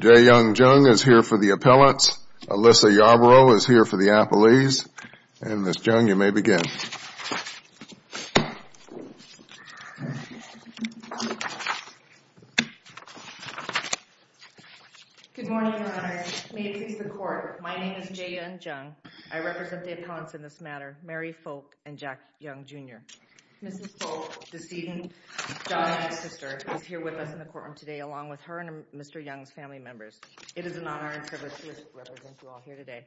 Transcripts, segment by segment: J. Young Jung is here for the appellants, Alyssa Yarbrough is here for the appellees, and Ms. Jung, you may begin. Good morning, Your Honors. May it please the Court, my name is J. Young Jung. I represent the appellants in this matter, Mary Foulke and Jack Young, Jr. Mrs. Foulke's decedent daughter and sister is here with us in the courtroom today along with her and Mr. Young's family members. It is an honor and privilege to represent you all here today.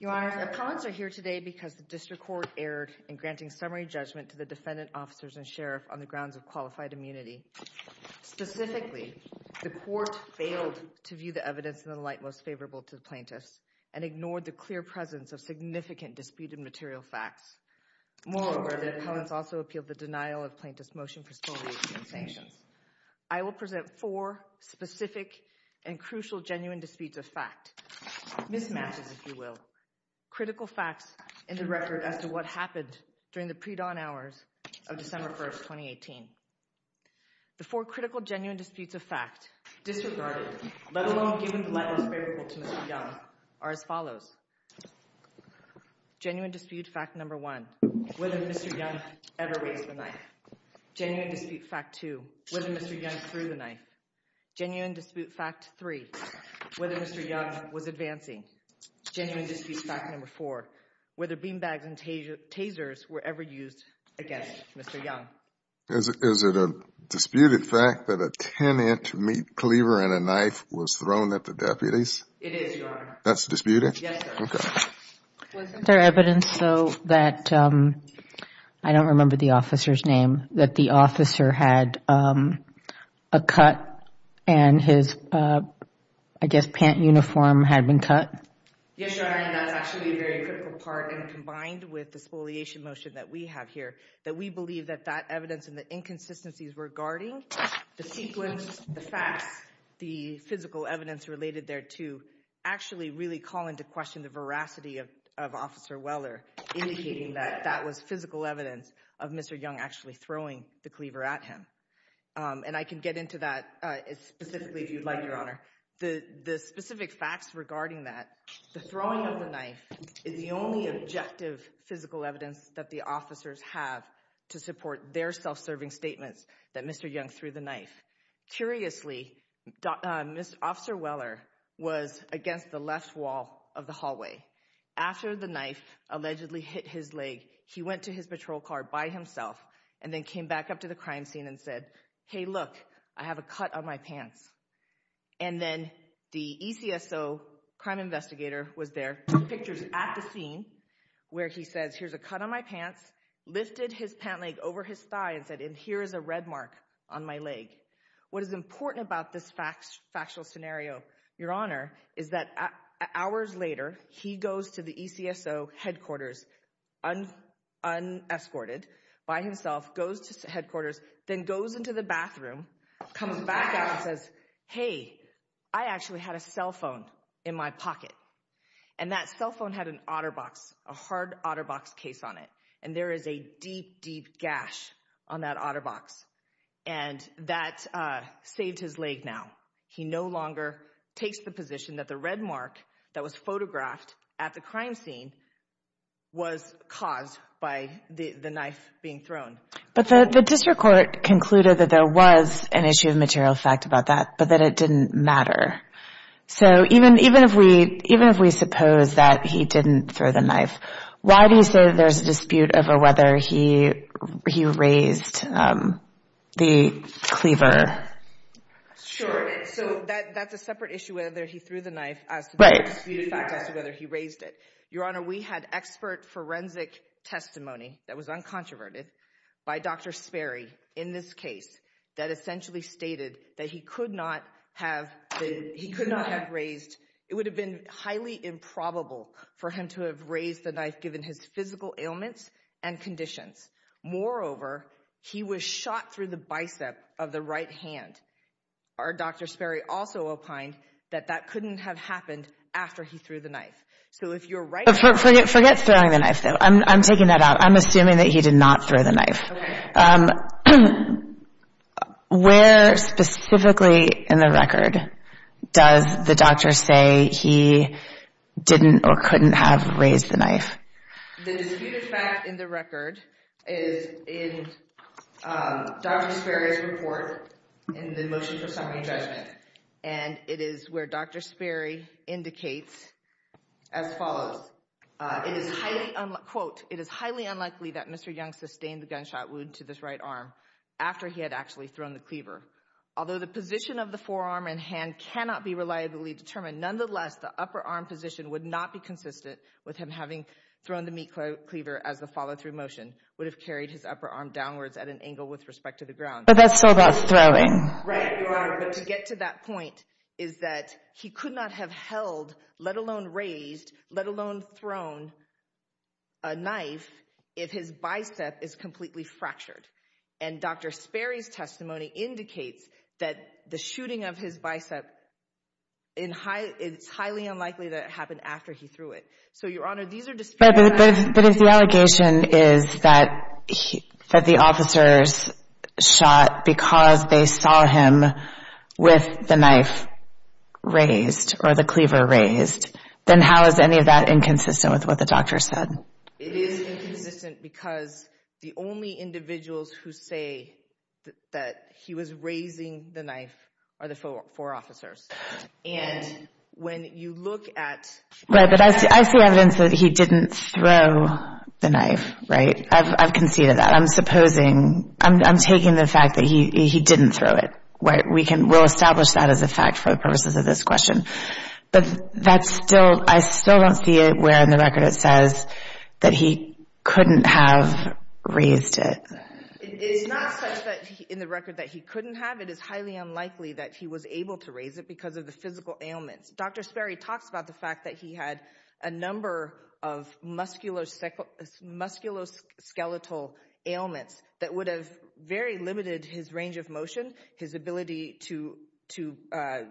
Your Honors, the appellants are here today because the District Court erred in granting summary judgment to the defendant, officers, and sheriff on the grounds of qualified immunity. Specifically, the Court failed to view the evidence in the light most favorable to the plaintiffs and ignored the clear presence of significant disputed material facts. Moreover, the appellants also appealed the denial of plaintiff's motion for spoliation and sanctions. I will present four specific and crucial genuine disputes of fact, mismatches if you will, critical facts in the record as to what happened during the predawn hours of December 1, 2018. The four critical genuine disputes of fact disregarded, let alone given the light most favorable to Mr. Young are as follows. Genuine dispute fact number one, whether Mr. Young ever raised the knife. Genuine dispute fact two, whether Mr. Young threw the knife. Genuine dispute fact three, whether Mr. Young was advancing. Genuine dispute fact number four, whether beanbags and tasers were ever used against Mr. Young. Is it a disputed fact that a tenant meat cleaver and a knife was thrown at the deputies? It is, Your Honor. That's disputed? Yes, sir. Okay. Was there evidence though that, I don't remember the officer's name, that the officer had a cut and his, I guess, pant uniform had been cut? Yes, Your Honor. And that's actually a very critical part and combined with the spoliation motion that we have here, that we believe that that evidence and the inconsistencies regarding the sequence, the facts, the physical evidence related there to actually really call into question the veracity of Officer Weller, indicating that that was physical evidence of Mr. Young actually throwing the cleaver at him. And I can get into that specifically if you'd like, Your Honor. The specific facts regarding that, the throwing of the knife is the only objective physical evidence that the officers have to support their self-serving statements that Mr. Young threw the knife. Curiously, Mr. Officer Weller was against the left wall of the hallway. After the knife allegedly hit his leg, he went to his patrol car by himself and then came back up to the crime scene and said, hey, look, I have a cut on my pants. And then the ECSO crime investigator was there, took pictures at the scene where he says, here's a cut on my pants, lifted his pant leg over his thigh and said, and here is a red mark on my leg. What is important about this factual scenario, Your Honor, is that hours later, he goes to the ECSO headquarters unescorted by himself, goes to headquarters, then goes into the bathroom, comes back out and says, hey, I actually had a cell phone in my pocket. And that cell phone had an OtterBox, a hard OtterBox case on it. And there is a deep, deep gash on that OtterBox. And that saved his leg now. He no longer takes the position that the red mark that was photographed at the crime scene was caused by the knife being thrown. But the district court concluded that there was an issue of material fact about that, but that it didn't matter. So even if we suppose that he didn't throw the knife, why do you say there's a dispute over whether he raised the cleaver? Sure. So that's a separate issue whether he threw the knife as to whether he raised it. Your Honor, we had expert forensic testimony that was uncontroverted by Dr. Sperry in this case that essentially stated that he could not have raised. It would have been highly improbable for him to have raised the knife given his physical ailments and conditions. Moreover, he was shot through the bicep of the right hand. Our Dr. Sperry also opined that that couldn't have happened after he threw the knife. So if you're right... Forget throwing the knife, though. I'm taking that out. I'm assuming that he did not throw the knife. Okay. Where specifically in the record does the doctor say he didn't or couldn't have raised the knife? The disputed fact in the record is in Dr. Sperry's report in the motion for summary judgment. And it is where Dr. Sperry indicates as follows. Quote, it is highly unlikely that Mr. Young sustained the gunshot wound to this right arm after he had actually thrown the cleaver. Although the position of the forearm and hand cannot be reliably determined, nonetheless, the upper arm position would not be consistent with him having thrown the meat cleaver as the follow-through motion would have carried his upper arm downwards at an angle with respect to the ground. But that's still about throwing. Right, Your Honor. But to get to that point is that he could not have held, let alone raised, let alone thrown a knife if his bicep is completely fractured. And Dr. Sperry's testimony indicates that the shooting of his bicep, it's highly unlikely that it happened after he threw it. But if the allegation is that the officers shot because they saw him with the knife raised or the cleaver raised, then how is any of that inconsistent with what the doctor said? It is inconsistent because the only individuals who say that he was raising the knife are the four officers. Right, but I see evidence that he didn't throw the knife, right? I've conceded that. I'm taking the fact that he didn't throw it. We'll establish that as a fact for the purposes of this question. But I still don't see it where in the record it says that he couldn't have raised it. It's not such that in the record that he couldn't have. It is highly unlikely that he was able to raise it because of the physical ailments. Dr. Sperry talks about the fact that he had a number of musculoskeletal ailments that would have very limited his range of motion, his ability to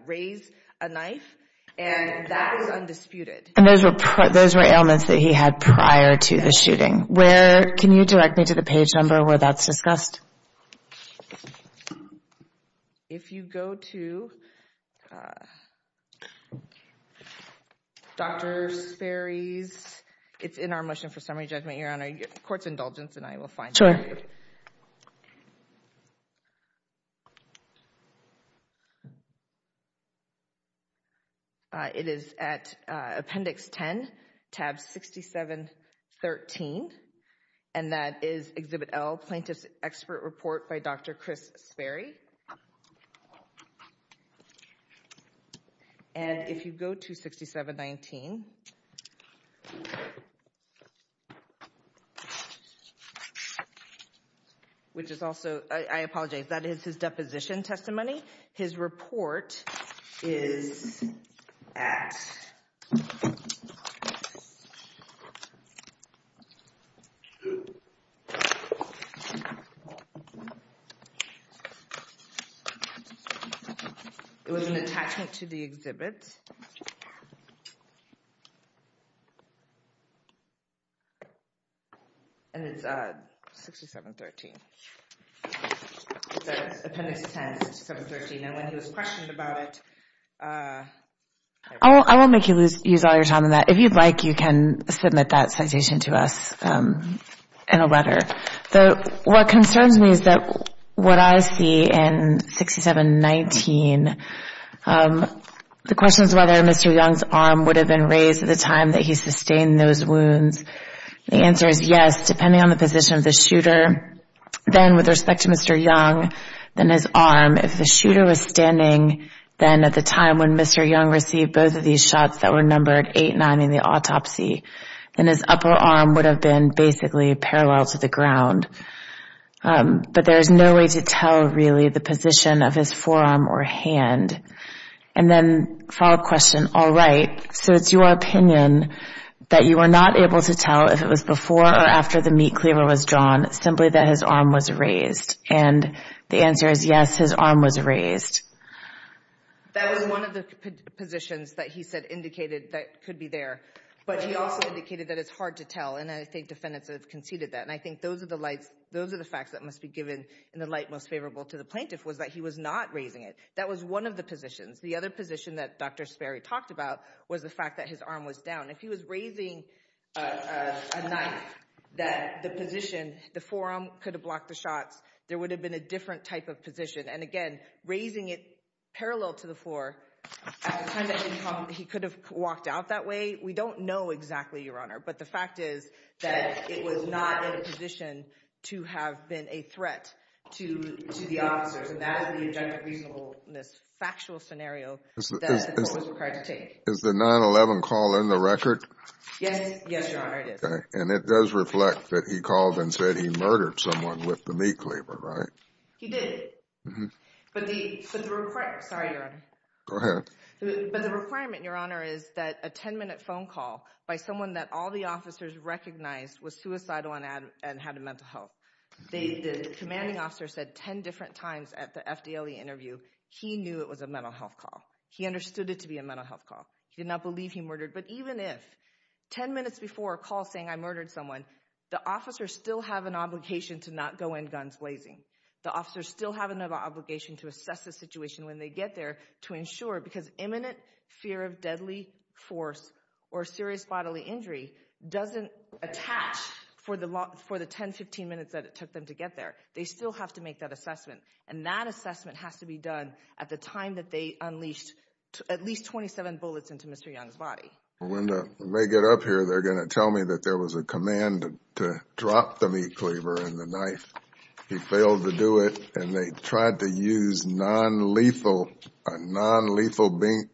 raise a knife. And that is undisputed. And those were ailments that he had prior to the shooting. Where can you direct me to the page number where that's discussed? If you go to Dr. Sperry's, it's in our motion for summary judgment, Your Honor, court's indulgence, and I will find it. Sure. It is at Appendix 10, tab 6713. And that is Exhibit L, Plaintiff's Expert Report by Dr. Chris Sperry. And if you go to 6719, which is also, I apologize, that is his deposition testimony. His report is at. It was an attachment to the exhibit. And it's at 6713. It's at Appendix 10, 6713. And when he was questioned about it. I won't make you lose all your time on that. If you'd like, you can submit that citation to us in a letter. What concerns me is that what I see in 6719, the question is whether Mr. Young's arm would have been raised at the time that he sustained those wounds. The answer is yes, depending on the position of the shooter. Then, with respect to Mr. Young, then his arm, if the shooter was standing then at the time when Mr. Young received both of these shots that were numbered 8-9 in the autopsy, then his upper arm would have been basically parallel to the ground. But there's no way to tell, really, the position of his forearm or hand. And then follow-up question, all right, so it's your opinion that you were not able to tell if it was before or after the meat cleaver was drawn, simply that his arm was raised. And the answer is yes, his arm was raised. That was one of the positions that he said indicated that could be there. But he also indicated that it's hard to tell, and I think defendants have conceded that. And I think those are the facts that must be given in the light most favorable to the plaintiff was that he was not raising it. That was one of the positions. The other position that Dr. Sperry talked about was the fact that his arm was down. If he was raising a knife, that the position, the forearm could have blocked the shots. There would have been a different type of position. And, again, raising it parallel to the floor, at the time that he called, he could have walked out that way. We don't know exactly, Your Honor, but the fact is that it was not in a position to have been a threat to the officers. And that is the objective reasonableness factual scenario that the court was required to take. Is the 9-11 call in the record? Yes, Your Honor, it is. And it does reflect that he called and said he murdered someone with the meat cleaver, right? He did. But the requirement, Your Honor, is that a 10-minute phone call by someone that all the officers recognized was suicidal and had a mental health. The commanding officer said 10 different times at the FDLE interview he knew it was a mental health call. He understood it to be a mental health call. He did not believe he murdered. But even if 10 minutes before a call saying I murdered someone, the officers still have an obligation to not go in guns blazing. The officers still have an obligation to assess the situation when they get there to ensure, because imminent fear of deadly force or serious bodily injury doesn't attach for the 10, 15 minutes that it took them to get there. And that assessment has to be done at the time that they unleashed at least 27 bullets into Mr. Young's body. When they get up here, they're going to tell me that there was a command to drop the meat cleaver and the knife. He failed to do it, and they tried to use a nonlethal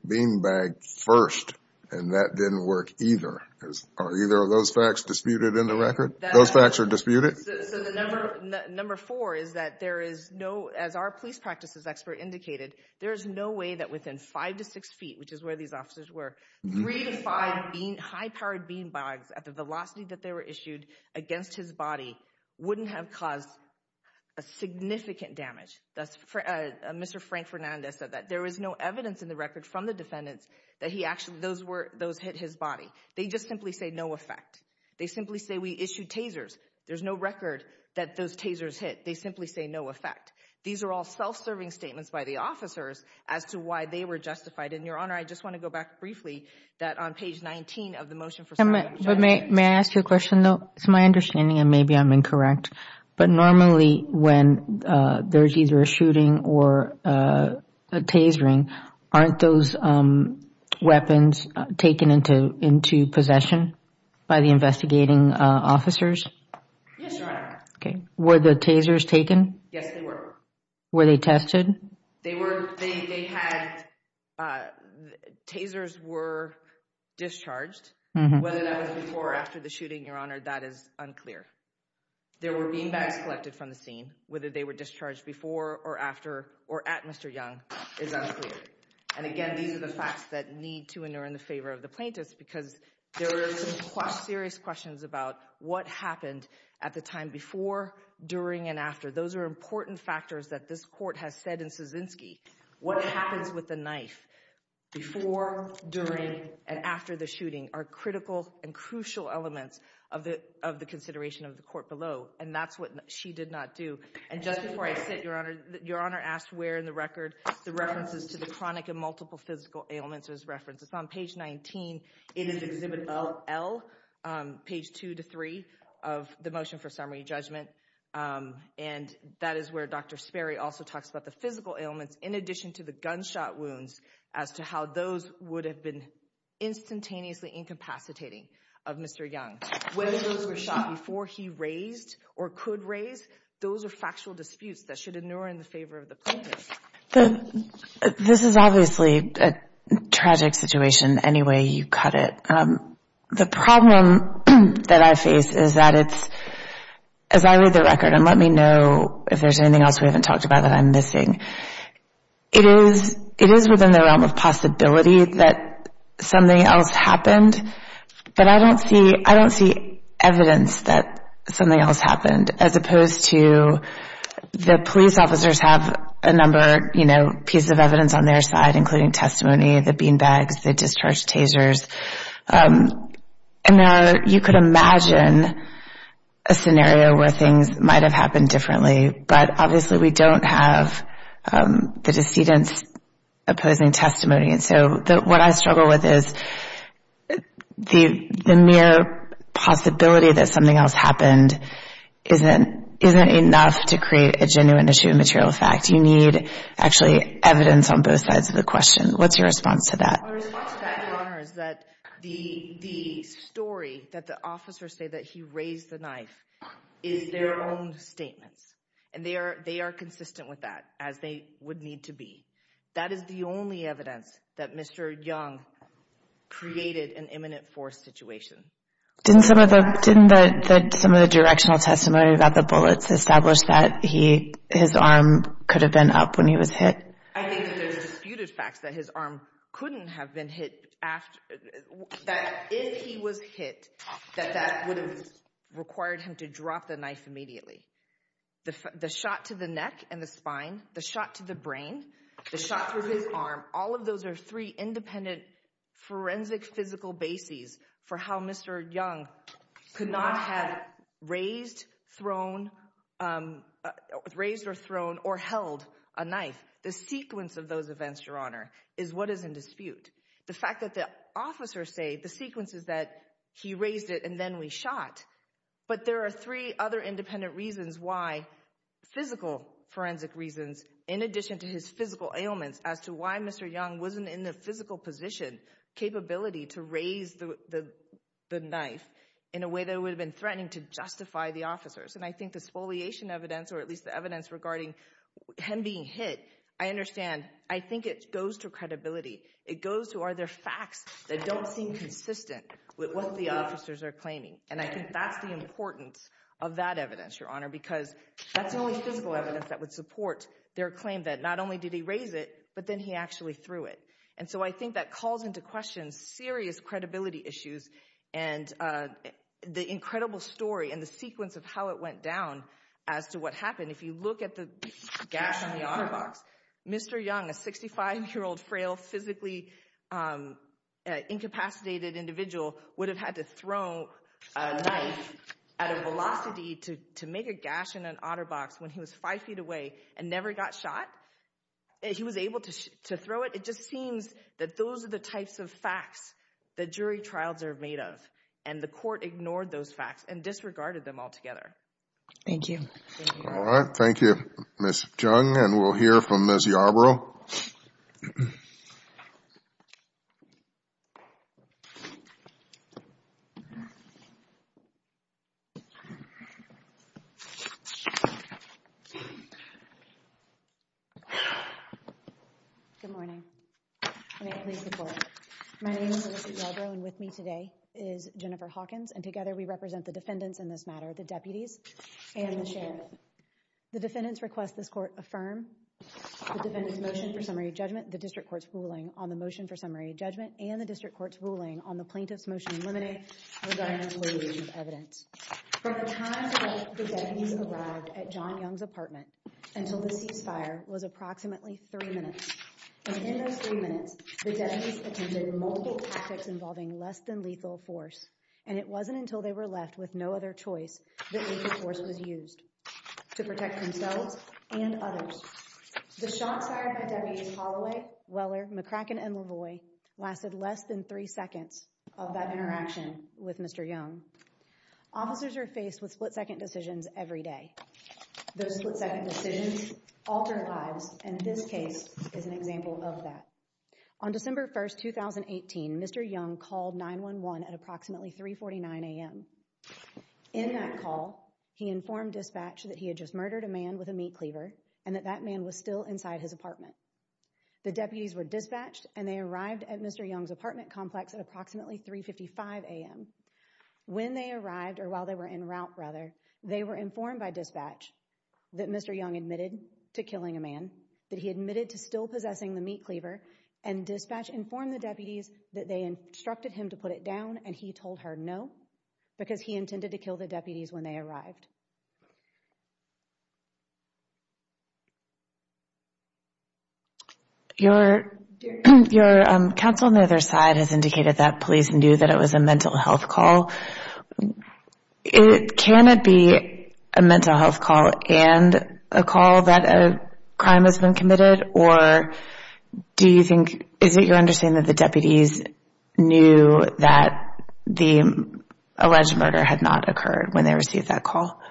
bean bag first, and that didn't work either. Are either of those facts disputed in the record? Those facts are disputed? So the number four is that there is no, as our police practices expert indicated, there is no way that within five to six feet, which is where these officers were, three to five high-powered bean bags at the velocity that they were issued against his body wouldn't have caused a significant damage. Mr. Frank Fernandez said that there was no evidence in the record from the defendants that those hit his body. They just simply say no effect. They simply say we issued tasers. There's no record that those tasers hit. They simply say no effect. These are all self-serving statements by the officers as to why they were justified. And, Your Honor, I just want to go back briefly that on page 19 of the motion for – But may I ask you a question, though? It's my understanding, and maybe I'm incorrect, but normally when there's either a shooting or a tasering, aren't those weapons taken into possession by the investigating officers? Yes, Your Honor. Okay. Were the tasers taken? Yes, they were. Were they tested? They were – they had – tasers were discharged. Whether that was before or after the shooting, Your Honor, that is unclear. There were beanbags collected from the scene. Whether they were discharged before or after or at Mr. Young is unclear. And, again, these are the facts that need to inure in the favor of the plaintiffs because there are some serious questions about what happened at the time before, during, and after. Those are important factors that this court has said in Kaczynski. What happens with the knife before, during, and after the shooting are critical and crucial elements of the consideration of the court below. And that's what she did not do. And just before I sit, Your Honor, Your Honor asked where in the record the references to the chronic and multiple physical ailments was referenced. It's on page 19 in Exhibit L, page 2 to 3 of the motion for summary judgment. And that is where Dr. Sperry also talks about the physical ailments in addition to the gunshot wounds as to how those would have been instantaneously incapacitating of Mr. Young. Whether those were shot before he raised or could raise, those are factual disputes that should inure in the favor of the plaintiffs. This is obviously a tragic situation any way you cut it. The problem that I face is that it's, as I read the record, and let me know if there's anything else we haven't talked about that I'm missing, it is within the realm of possibility that something else happened, but I don't see evidence that something else happened, as opposed to the police officers have a number of pieces of evidence on their side, including testimony, the beanbags, the discharge tasers. And you could imagine a scenario where things might have happened differently, but obviously we don't have the decedent's opposing testimony. And so what I struggle with is the mere possibility that something else happened isn't enough to create a genuine issue of material fact. You need actually evidence on both sides of the question. What's your response to that? My response to that, Your Honor, is that the story that the officers say that he raised the knife is their own statements, and they are consistent with that, as they would need to be. That is the only evidence that Mr. Young created an imminent force situation. Didn't some of the directional testimony about the bullets establish that his arm could have been up when he was hit? I think that there's disputed facts that his arm couldn't have been hit, that if he was hit, that that would have required him to drop the knife immediately. The shot to the neck and the spine, the shot to the brain, the shot through his arm, all of those are three independent forensic physical bases for how Mr. Young could not have raised, thrown, raised or thrown or held a knife. The sequence of those events, Your Honor, is what is in dispute. The fact that the officers say the sequence is that he raised it and then we shot, but there are three other independent reasons why, physical forensic reasons, in addition to his physical ailments, as to why Mr. Young wasn't in the physical position, capability to raise the knife in a way that would have been threatening to justify the officers. I think this foliation evidence, or at least the evidence regarding him being hit, I understand. I think it goes to credibility. It goes to, are there facts that don't seem consistent with what the officers are claiming? And I think that's the importance of that evidence, Your Honor, because that's the only physical evidence that would support their claim that not only did he raise it, but then he actually threw it. And so I think that calls into question serious credibility issues and the incredible story and the sequence of how it went down as to what happened. If you look at the gash on the auto box, Mr. Young, a 65-year-old, frail, physically incapacitated individual would have had to throw a knife at a velocity to make a gash in an auto box when he was five feet away and never got shot. He was able to throw it. It just seems that those are the types of facts that jury trials are made of, and the court ignored those facts and disregarded them altogether. Thank you. All right. Thank you, Ms. Jung. And we'll hear from Ms. Yarbrough. Good morning. May I please report? My name is Melissa Yarbrough, and with me today is Jennifer Hawkins, and together we represent the defendants in this matter, the deputies, and the sheriff. The defendants request this court affirm the defendant's motion for summary judgment, the district court's ruling on the motion for summary judgment, and the district court's ruling on the plaintiff's motion in limine regarding the weighting of evidence. From the time the deputies arrived at John Young's apartment until the ceasefire was approximately three minutes, and in those three minutes, the deputies attended multiple tactics involving less than lethal force, and it wasn't until they were left with no other choice that lethal force was used to protect themselves and others. The shots fired at deputies Holloway, Weller, McCracken, and Lavoie lasted less than three seconds of that interaction with Mr. Young. Officers are faced with split-second decisions every day. Those split-second decisions alter lives, and this case is an example of that. On December 1st, 2018, Mr. Young called 911 at approximately 349 a.m. In that call, he informed dispatch that he had just murdered a man with a meat cleaver, and that that man was still inside his apartment. The deputies were dispatched, and they arrived at Mr. Young's apartment complex at approximately 355 a.m. When they arrived, or while they were en route, rather, they were informed by dispatch that Mr. Young admitted to killing a man, that he admitted to still possessing the meat cleaver, and dispatch informed the deputies that they instructed him to put it down, and he told her no, because he intended to kill the deputies when they arrived. Your counsel on the other side has indicated that police knew that it was a mental health call. Can it be a mental health call and a call that a crime has been committed, or do you think, is it your understanding that the deputies knew that the alleged murder had not occurred when they received that call?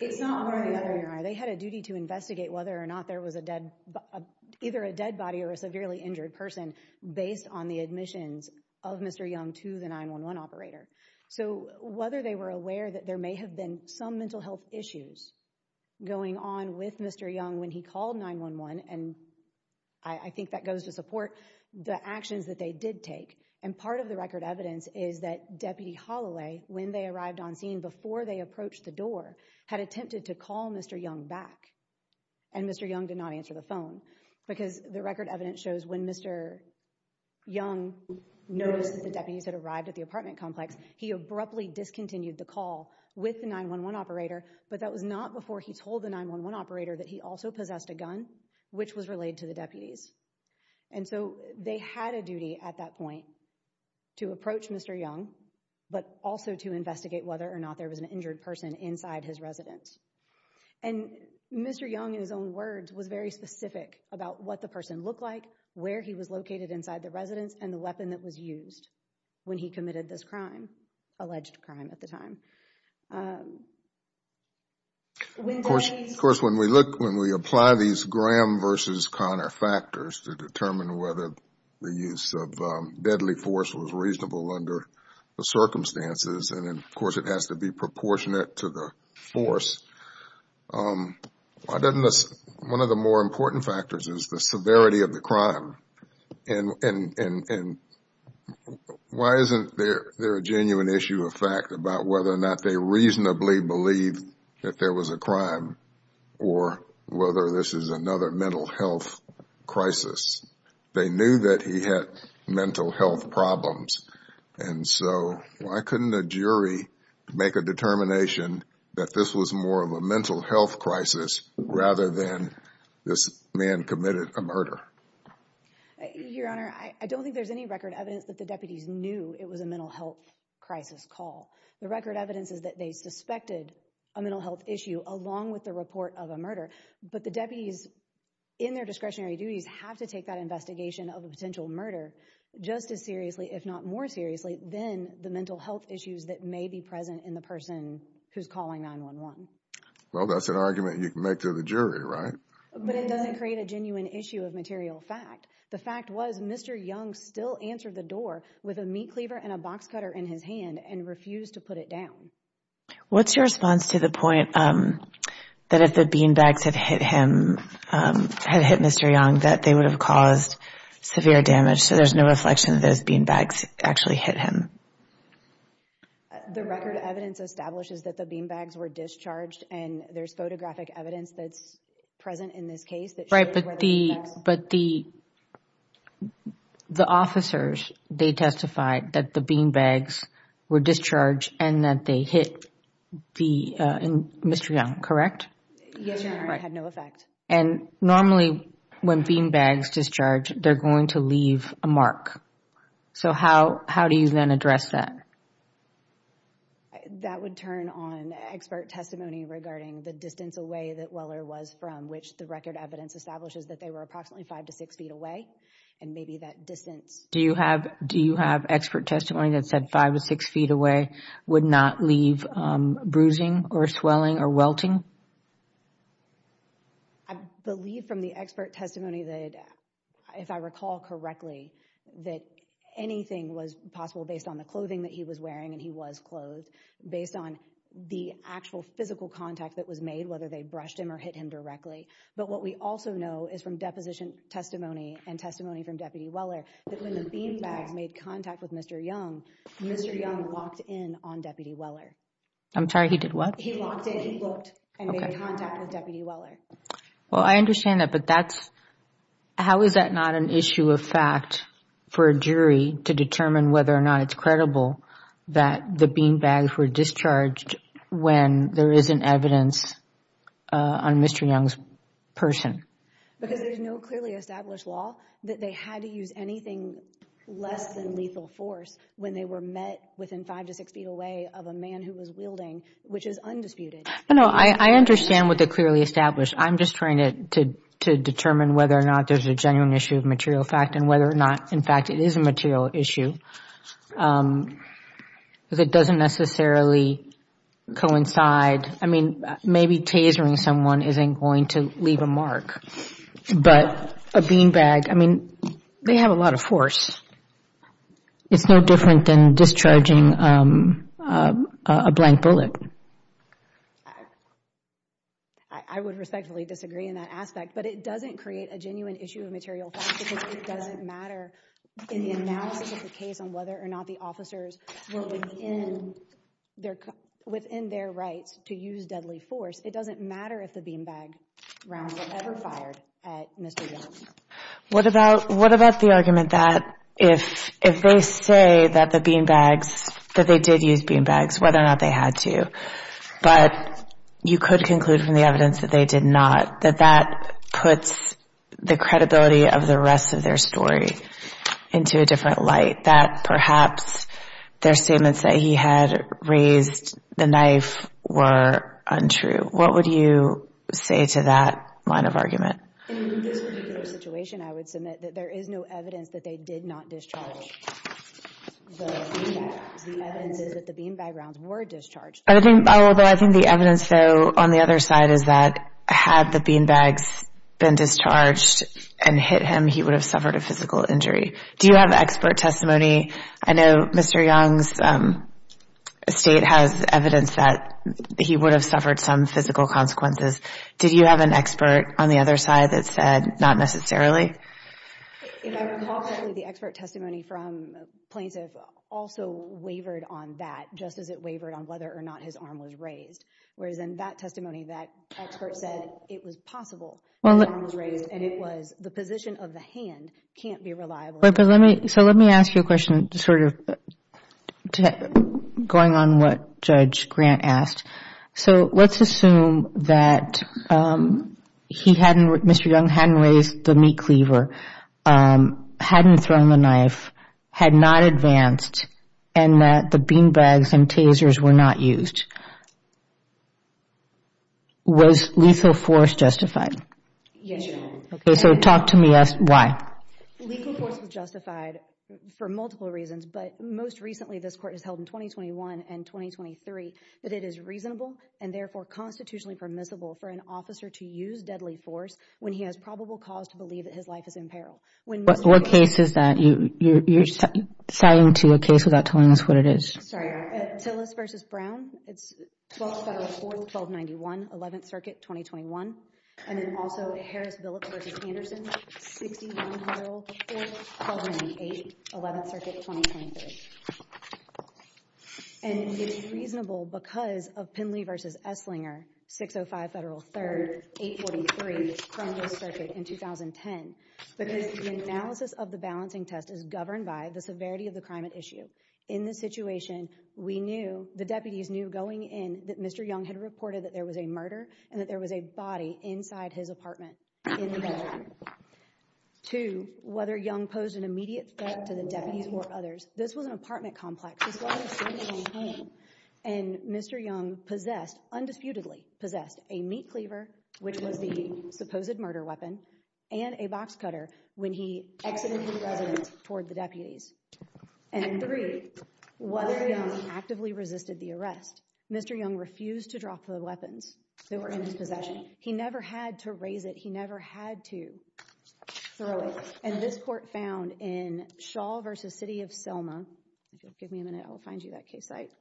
It's not where the other ear are. They had a duty to investigate whether or not there was either a dead body or a severely injured person based on the admissions of Mr. Young to the 911 operator. So, whether they were aware that there may have been some mental health issues going on with Mr. Young when he called 911, and I think that goes to support the actions that they did take, and part of the record evidence is that Deputy Holloway, when they arrived on scene, before they approached the door, had attempted to call Mr. Young back, and Mr. Young did not answer the phone, because the record evidence shows when Mr. Young noticed that the deputies had arrived at the apartment complex, he abruptly discontinued the call with the 911 operator, but that was not before he told the 911 operator that he also possessed a gun, which was relayed to the deputies. And so, they had a duty at that point to approach Mr. Young, but also to investigate whether or not there was an injured person inside his residence. And Mr. Young, in his own words, was very specific about what the person looked like, where he was located inside the residence, and the weapon that was used when he committed this crime, alleged crime at the time. Of course, when we apply these Graham versus Connor factors to determine whether the use of deadly force was reasonable under the circumstances, and of course it has to be proportionate to the force, one of the more important factors is the severity of the crime. And why isn't there a genuine issue of fact about whether or not they reasonably believed that there was a crime, or whether this is another mental health crisis? They knew that he had mental health problems, and so why couldn't a jury make a determination that this was more of a mental health crisis, rather than this man committed a murder? Your Honor, I don't think there's any record evidence that the deputies knew it was a mental health crisis call. The record evidence is that they suspected a mental health issue, along with the report of a murder. But the deputies, in their discretionary duties, have to take that investigation of a potential murder just as seriously, if not more seriously, than the mental health issues that may be present in the person who's calling 911. Well, that's an argument you can make to the jury, right? But it doesn't create a genuine issue of material fact. The fact was, Mr. Young still answered the door with a meat cleaver and a box cutter in his hand, and refused to put it down. What's your response to the point that if the beanbags had hit him, had hit Mr. Young, that they would have caused severe damage, so there's no reflection that those beanbags actually hit him? The record evidence establishes that the beanbags were discharged, and there's photographic evidence that's present in this case. Right, but the officers, they testified that the beanbags were discharged and that they hit Mr. Young, correct? Yes, Your Honor, it had no effect. And normally, when beanbags discharge, they're going to leave a mark. So how do you then address that? That would turn on expert testimony regarding the distance away that Weller was from, which the record evidence establishes that they were approximately five to six feet away, and maybe that distance... Do you have expert testimony that said five to six feet away would not leave bruising or swelling or welting? I believe from the expert testimony that, if I recall correctly, that anything was possible based on the clothing that he was wearing, and he was clothed, based on the actual physical contact that was made, whether they brushed him or hit him directly. But what we also know is from deposition testimony and testimony from Deputy Weller, that when the beanbags made contact with Mr. Young, Mr. Young walked in on Deputy Weller. I'm sorry, he did what? He walked in, he looked, and made contact with Deputy Weller. Well, I understand that, but how is that not an issue of fact for a jury to determine whether or not it's credible that the beanbags were discharged when there isn't evidence on Mr. Young's person? Because there's no clearly established law that they had to use anything less than lethal force when they were met within five to six feet away of a man who was wielding, which is undisputed. No, I understand what the clearly established. I'm just trying to determine whether or not there's a genuine issue of material fact and whether or not, in fact, it is a material issue that doesn't necessarily coincide. I mean, maybe tasering someone isn't going to leave a mark, but a beanbag, I mean, they have a lot of force. It's no different than discharging a blank bullet. I would respectfully disagree in that aspect, but it doesn't create a genuine issue of material fact, because it doesn't matter in the analysis of the case on whether or not the officers were within their rights to use deadly force. It doesn't matter if the beanbag round was ever fired at Mr. Young. What about the argument that if they say that the beanbags, that they did use beanbags, whether or not they had to, but you could conclude from the evidence that they did not, that that puts the credibility of the rest of their story into a different light, that perhaps their statements that he had raised the knife were untrue. What would you say to that line of argument? In this particular situation, I would submit that there is no evidence that they did not discharge the beanbags. The evidence is that the beanbag rounds were discharged. Although I think the evidence, though, on the other side is that had the beanbags been discharged and hit him, he would have suffered a physical injury. Do you have expert testimony? I know Mr. Young's state has evidence that he would have suffered some physical consequences. Did you have an expert on the other side that said not necessarily? If I recall correctly, the expert testimony from plaintiff also wavered on that, just as it wavered on whether or not his arm was raised. Whereas in that testimony, that expert said it was possible his arm was raised and it was the position of the hand can't be reliable. So let me ask you a question sort of going on what Judge Grant asked. So let's assume that Mr. Young hadn't raised the meat cleaver, hadn't thrown the knife, had not advanced, and that the beanbags and tasers were not used. Was lethal force justified? Yes, Your Honor. So talk to me as to why. Lethal force was justified for multiple reasons, but most recently this court has held in 2021 and 2023 that it is reasonable and therefore constitutionally permissible for an officer to use deadly force when he has probable cause to believe that his life is in peril. What case is that? You're citing to a case without telling us what it is. Sorry. Tillis v. Brown. It's 12th Federal Court, 1291, 11th Circuit, 2021. And then also Harris-Billick v. Anderson, 6104, 1298, 11th Circuit, 2023. And it's reasonable because of Pinley v. Esslinger, 605 Federal 3rd, 843, Cronkite Circuit in 2010, because the analysis of the balancing test is governed by the severity of the crime at issue. In this situation, we knew, the deputies knew going in that Mr. Young had reported that there was a murder and that there was a body inside his apartment in the bedroom. Two, whether Young posed an immediate threat to the deputies or others, this was an apartment complex, this was his own home, and Mr. Young possessed, undisputedly possessed, a meat cleaver, which was the supposed murder weapon, and a box cutter when he exited the residence toward the deputies. And three, whether Young actively resisted the arrest. Mr. Young refused to drop the weapons that were in his possession. He never had to raise it. He never had to throw it. And this court found in Shaw v. City of Selma, give me a minute, I'll find you that case site,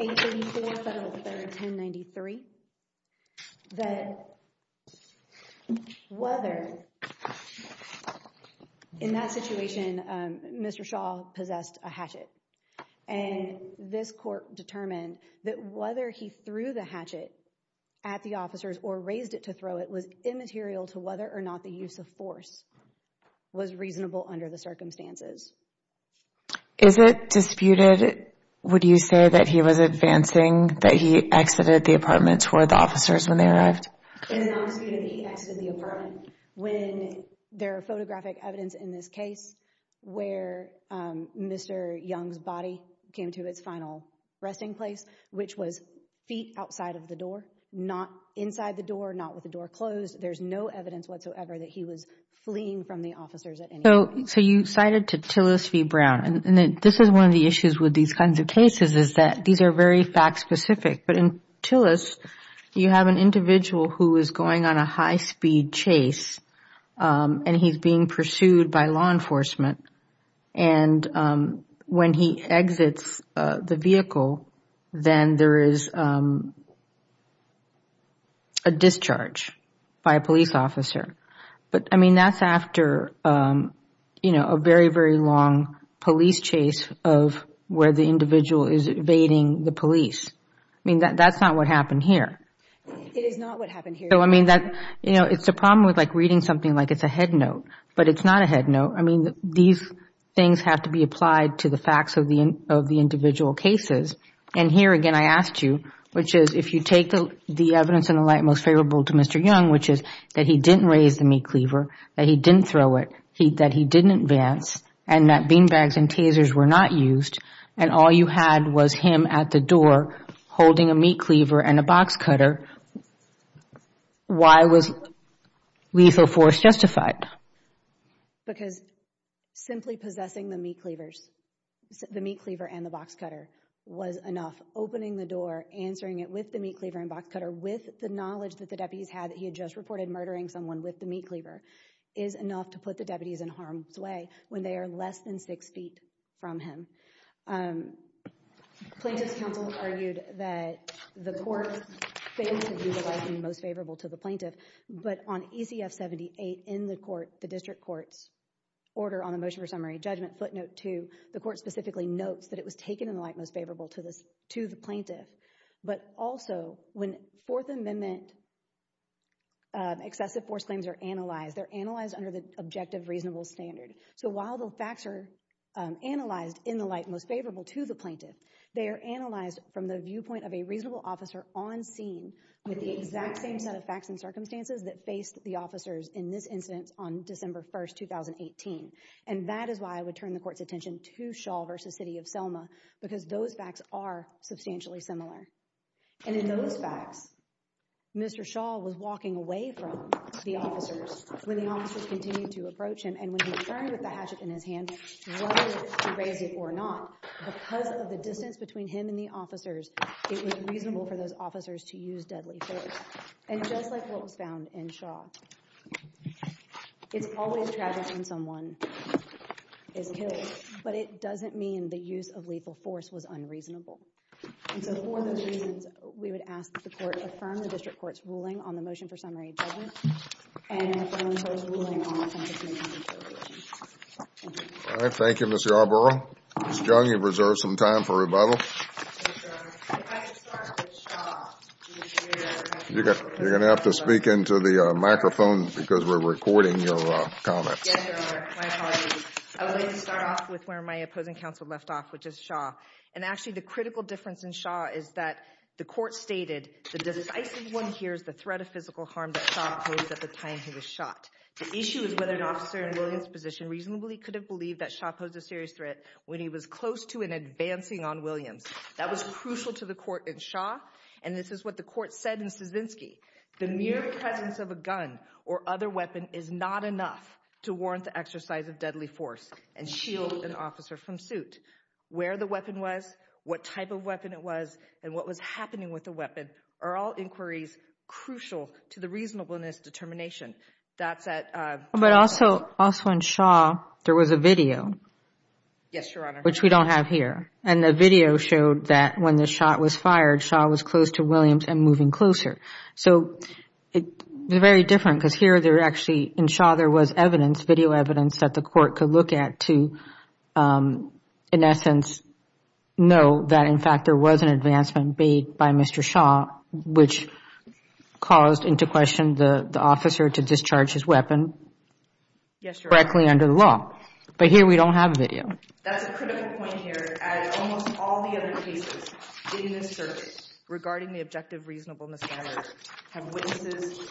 834 Federal 3rd, 1093, that whether in that situation, Mr. Shaw possessed a hatchet. And this court determined that whether he threw the hatchet at the officers or raised it to throw it was immaterial to whether or not the use of force was reasonable under the circumstances. Is it disputed, would you say, that he was advancing, that he exited the apartment toward the officers when they arrived? It is not disputed that he exited the apartment. When there are photographic evidence in this case where Mr. Young's body came to its final resting place, which was feet outside of the door, not inside the door, not with the door closed, there is no evidence whatsoever that he was fleeing from the officers at any time. So you cited Tillis v. Brown. And this is one of the issues with these kinds of cases is that these are very fact specific. But in Tillis, you have an individual who is going on a high speed chase and he is being pursued by law enforcement. And when he exits the vehicle, then there is a discharge by a police officer. But I mean, that is after a very, very long police chase of where the individual is evading the police. I mean, that is not what happened here. It is not what happened here. I mean, these things have to be applied to the facts of the individual cases. And here again, I asked you, which is, if you take the evidence in the light most favorable to Mr. Young, which is that he didn't raise the meat cleaver, that he didn't throw it, that he didn't advance, and that bean bags and tasers were not used, and all you had was him at the door holding a meat cleaver and a box cutter, why was lethal force justified? Because simply possessing the meat cleavers, the meat cleaver and the box cutter was enough. Opening the door, answering it with the meat cleaver and box cutter, with the knowledge that the deputies had that he had just reported murdering someone with the meat cleaver, is enough to put the deputies in harm's way when they are less than six feet from him. Plaintiff's counsel argued that the court failed to utilize the most favorable to the plaintiff, but on ECF 78 in the court, the district court's order on the motion for summary judgment, footnote 2, the court specifically notes that it was taken in the light most favorable to the plaintiff, but also when Fourth Amendment excessive force claims are analyzed, they're analyzed under the objective reasonable standard. So while the facts are analyzed in the light most favorable to the plaintiff, they are analyzed from the viewpoint of a reasonable officer on scene with the exact same set of facts and circumstances that faced the officers in this instance on December 1st 2018. And that is why I would turn the court's attention to Shaw versus City of Selma, because those facts are substantially similar. And in those facts, Mr. Shaw was walking away from the officers. When the officers continued to approach him and when he turned with the hatchet in his hand, whether to raise it or not, because of the distance between him and the officers, it was reasonable for those officers to fire when someone is killed. But it doesn't mean the use of lethal force was unreasonable. And so for those reasons, we would ask that the court affirm the district court's ruling on the motion for summary judgment and affirm the district court's ruling on offense of humiliation. Thank you, Ms. Yarbrough. Ms. Jung, you've reserved some time for rebuttal. If I could start with Shaw. You're going to have to speak into the microphone because we're recording your comments. Yes, Your Honor. My apologies. I would like to start off with where my opposing counsel left off, which is Shaw. And actually the critical difference in Shaw is that the court stated the decisive one here is the threat of physical harm that Shaw posed at the time he was shot. The issue is whether an officer in Williams' position reasonably could have believed that Shaw posed a serious threat when he was close to and advancing on Williams. That was crucial to the reasonableness of this determination. And that is that the use of a lethal weapon is not enough to warrant the exercise of deadly force and shield an officer from suit. Where the weapon was, what type of weapon it was, and what was happening with the weapon are all inquiries crucial to the reasonableness determination. But also in Shaw, there was a video. Yes, Your Honor. Which we don't have here. And the video showed that when the shot was fired, Shaw was close to Williams and moving closer. So they're very different because here they're actually, in Shaw there was evidence, video evidence that the court could look at to, in essence, know that in fact there was an advancement made by Mr. Shaw, which caused into question the officer to discharge his weapon. Yes, Your Honor. Correctly under the law. But here we don't have video. That's a critical point here. Almost all the other cases in this circuit regarding the objective reasonableness standard have witnesses,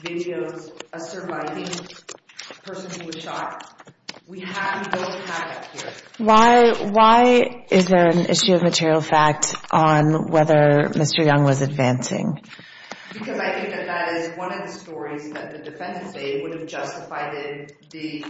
videos, a surviving person who was shot. We have no data here. Why is there an issue of material fact on whether Mr. Young was advancing? Because I think that that is one of the stories that the defense would have justified in the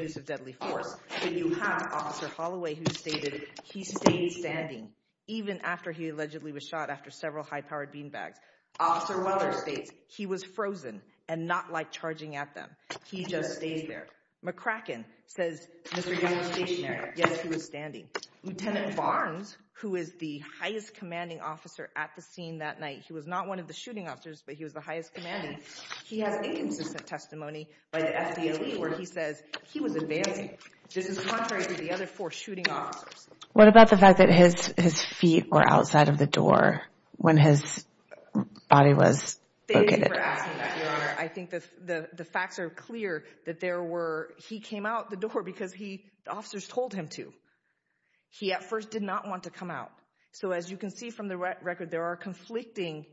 use of deadly force. You have Officer Holloway who stated he stayed standing even after he allegedly was shot after several high-powered beanbags. Officer Weller states he was frozen and not like charging at them. He just stays there. McCracken says Mr. Young was stationary. Yes, he was standing. Lieutenant Barnes, who is the highest commanding officer at the scene that night, he was not one of the shooting officers, but he was the highest commanding. He has inconsistent testimony by the FDLE where he says he was advancing. This is contrary to the other four shooting officers. What about the fact that his feet were outside of the door when his body was located? Thank you for asking that, Your Honor. I think the facts are clear that there were, he came out the door because the officers told him to. He at first did not want to come out. So as you can see from the record, there are conflicting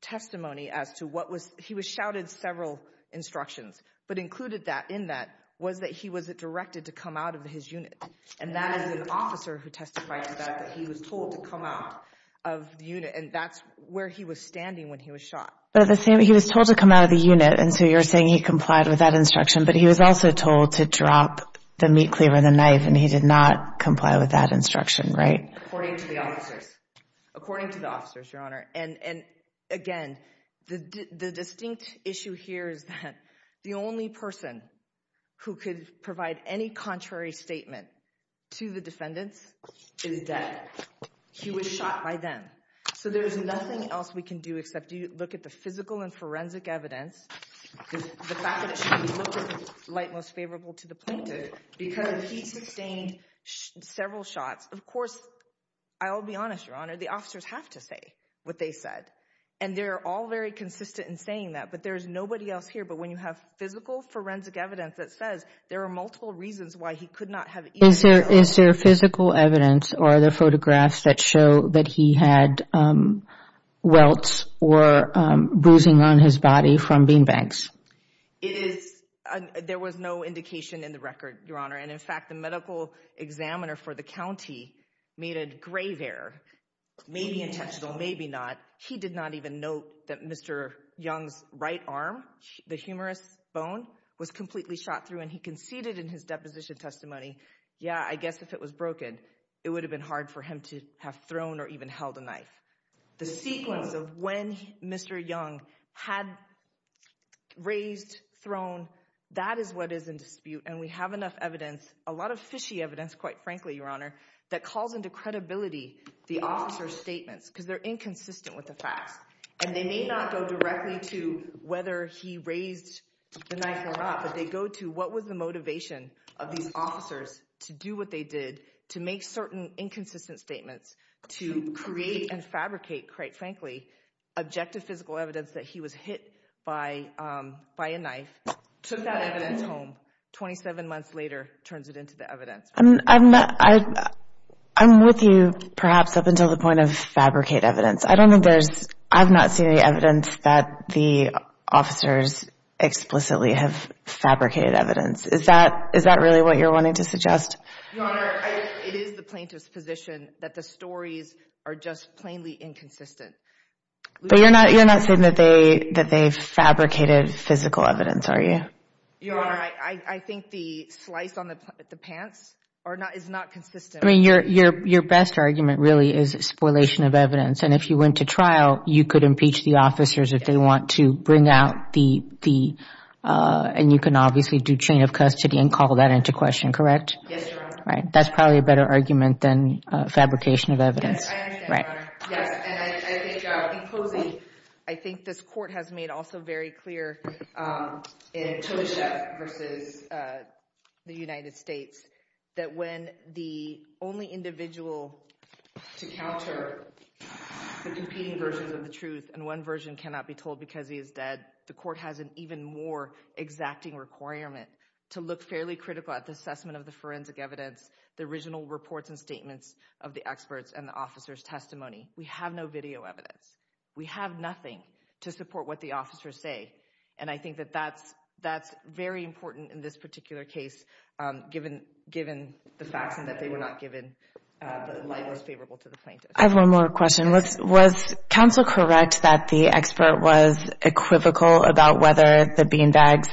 testimony as to what was, he was shouted several instructions, but included in that was that he was directed to come out of his unit. And that is an officer who testified to that, that he was told to come out of the unit, and that's where he was standing when he was shot. But he was told to come out of the unit, and so you're saying he complied with that instruction, but he was also told to drop the meat cleaver and the knife, and he did not comply with that instruction, right? According to the officers. According to the officers, Your Honor. And again, the distinct issue here is that the only person who could provide any contrary statement to the defendants is that he was shot by them. So there is nothing else we can do except look at the physical and forensic evidence. The fact that it should be looked at is not most favorable to the plaintiff, because he sustained several shots. Of course, I'll be honest, Your Honor, the officers have to say what they said, and they're all very consistent in saying that, but there's nobody else here. But when you have physical forensic evidence that says there are multiple reasons why he could not have eaten. Is there physical evidence or other photographs that show that he had welts or bruising on his body from beanbags? There was no indication in the record, Your Honor, and in fact, the medical examiner for the county made a grave error. Maybe intentional, maybe not. He did not even note that Mr. Young's right arm, the humerus bone, was completely shot through, and he conceded in his deposition testimony, yeah, I guess if it was broken, it would have been hard for him to have thrown or even held a knife. The sequence of when Mr. Young had raised, thrown, that is what is in dispute, and we have enough evidence, a lot of fishy evidence, quite frankly, Your Honor, that calls into credibility the officers' statements, because they're inconsistent with the facts. And they may not go directly to whether he raised the knife or not, but they go to what was the motivation of these officers to do what they did, to make certain inconsistent statements, to create and fabricate, quite frankly, objective physical evidence that he was hit by a knife, took that evidence home, 27 months later turns it into the evidence. I'm with you perhaps up until the point of fabricate evidence. I've not seen any evidence that the officers explicitly have fabricated evidence. Is that really what you're wanting to suggest? Your Honor, it is the plaintiff's position that the stories are just plainly inconsistent. But you're not saying that they fabricated physical evidence, are you? Your Honor, I think the slice on the pants is not consistent. I mean, your best argument really is spoilation of evidence, and if you went to trial, you could impeach the officers if they want to bring out the, and you can obviously do chain of custody and call that into question, correct? Yes, Your Honor. That's probably a better argument than fabrication of evidence. Yes, I understand, Your Honor. Yes, and I think, in closing, I think this Court has made also very clear in Tosha versus the United States, that when the only individual to counter the competing versions of the truth, and one version cannot be told because he is dead, the Court has an even more exacting requirement to look fairly critical at the assessment of the forensic evidence, the original reports and statements of the experts and the officers' testimony. We have no video evidence. We have nothing to support what the officers say, and I think that that's very important in this particular case, given the facts and that they were not given the light that was favorable to the plaintiff. I have one more question. Was counsel correct that the expert was equivocal about whether the beanbags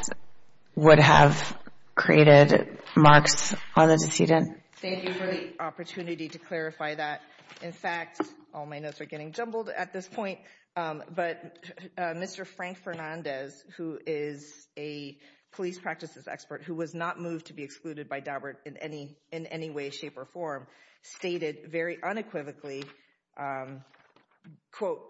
would have created marks on the decedent? Thank you for the opportunity to clarify that. In fact, all my notes are getting jumbled at this point, but Mr. Frank Fernandez, who is a police practices expert, who was not moved to be excluded by Daubert in any way, shape, or form, stated very unequivocally, quote,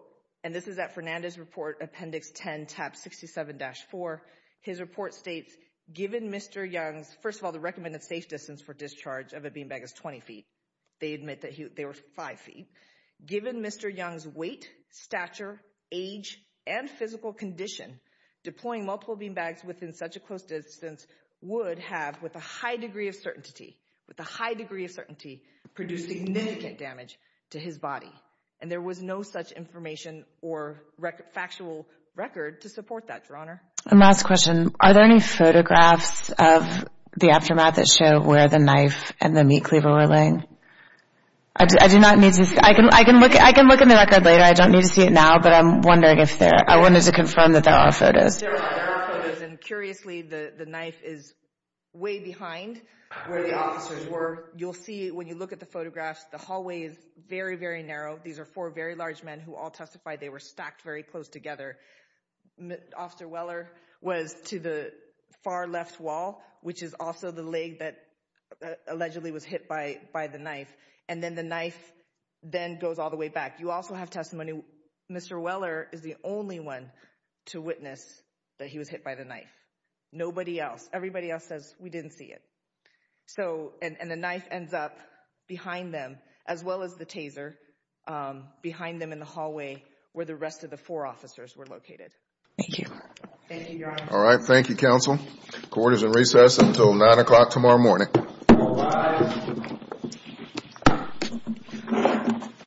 and this is at Fernandez's report, appendix 10, tab 67-4, his report states, given Mr. Young's, first of all, the recommended safe distance for discharge of a beanbag is 20 feet. They admit that they were 5 feet. Given Mr. Young's weight, stature, age, and physical condition, deploying multiple beanbags within such a close distance would have, with a high degree of certainty, with a high degree of certainty, produced significant damage to his body. And there was no such information or factual record to support that, Your Honor. And last question. Are there any photographs of the aftermath that show where the knife and the meat cleaver were laying? I do not need to see. I can look at the record later. I don't need to see it now, but I'm wondering if there are. I wanted to confirm that there are photos. And curiously, the knife is way behind where the officers were. You'll see it when you look at the photographs. The hallway is very, very narrow. These are four very large men who all testified they were stacked very close together. Officer Weller was to the far left wall, which is also the leg that allegedly was hit by the knife. And then the knife then goes all the way back. You also have testimony. Mr. Weller is the only one to witness that he was hit by the knife. Nobody else. Everybody else says, we didn't see it. And the knife ends up behind them, as well as the taser, behind them in the hallway where the rest of the four officers were located. Thank you. Thank you, Your Honor. All right. Thank you, counsel. Court is in recess until 9 o'clock tomorrow morning. All rise.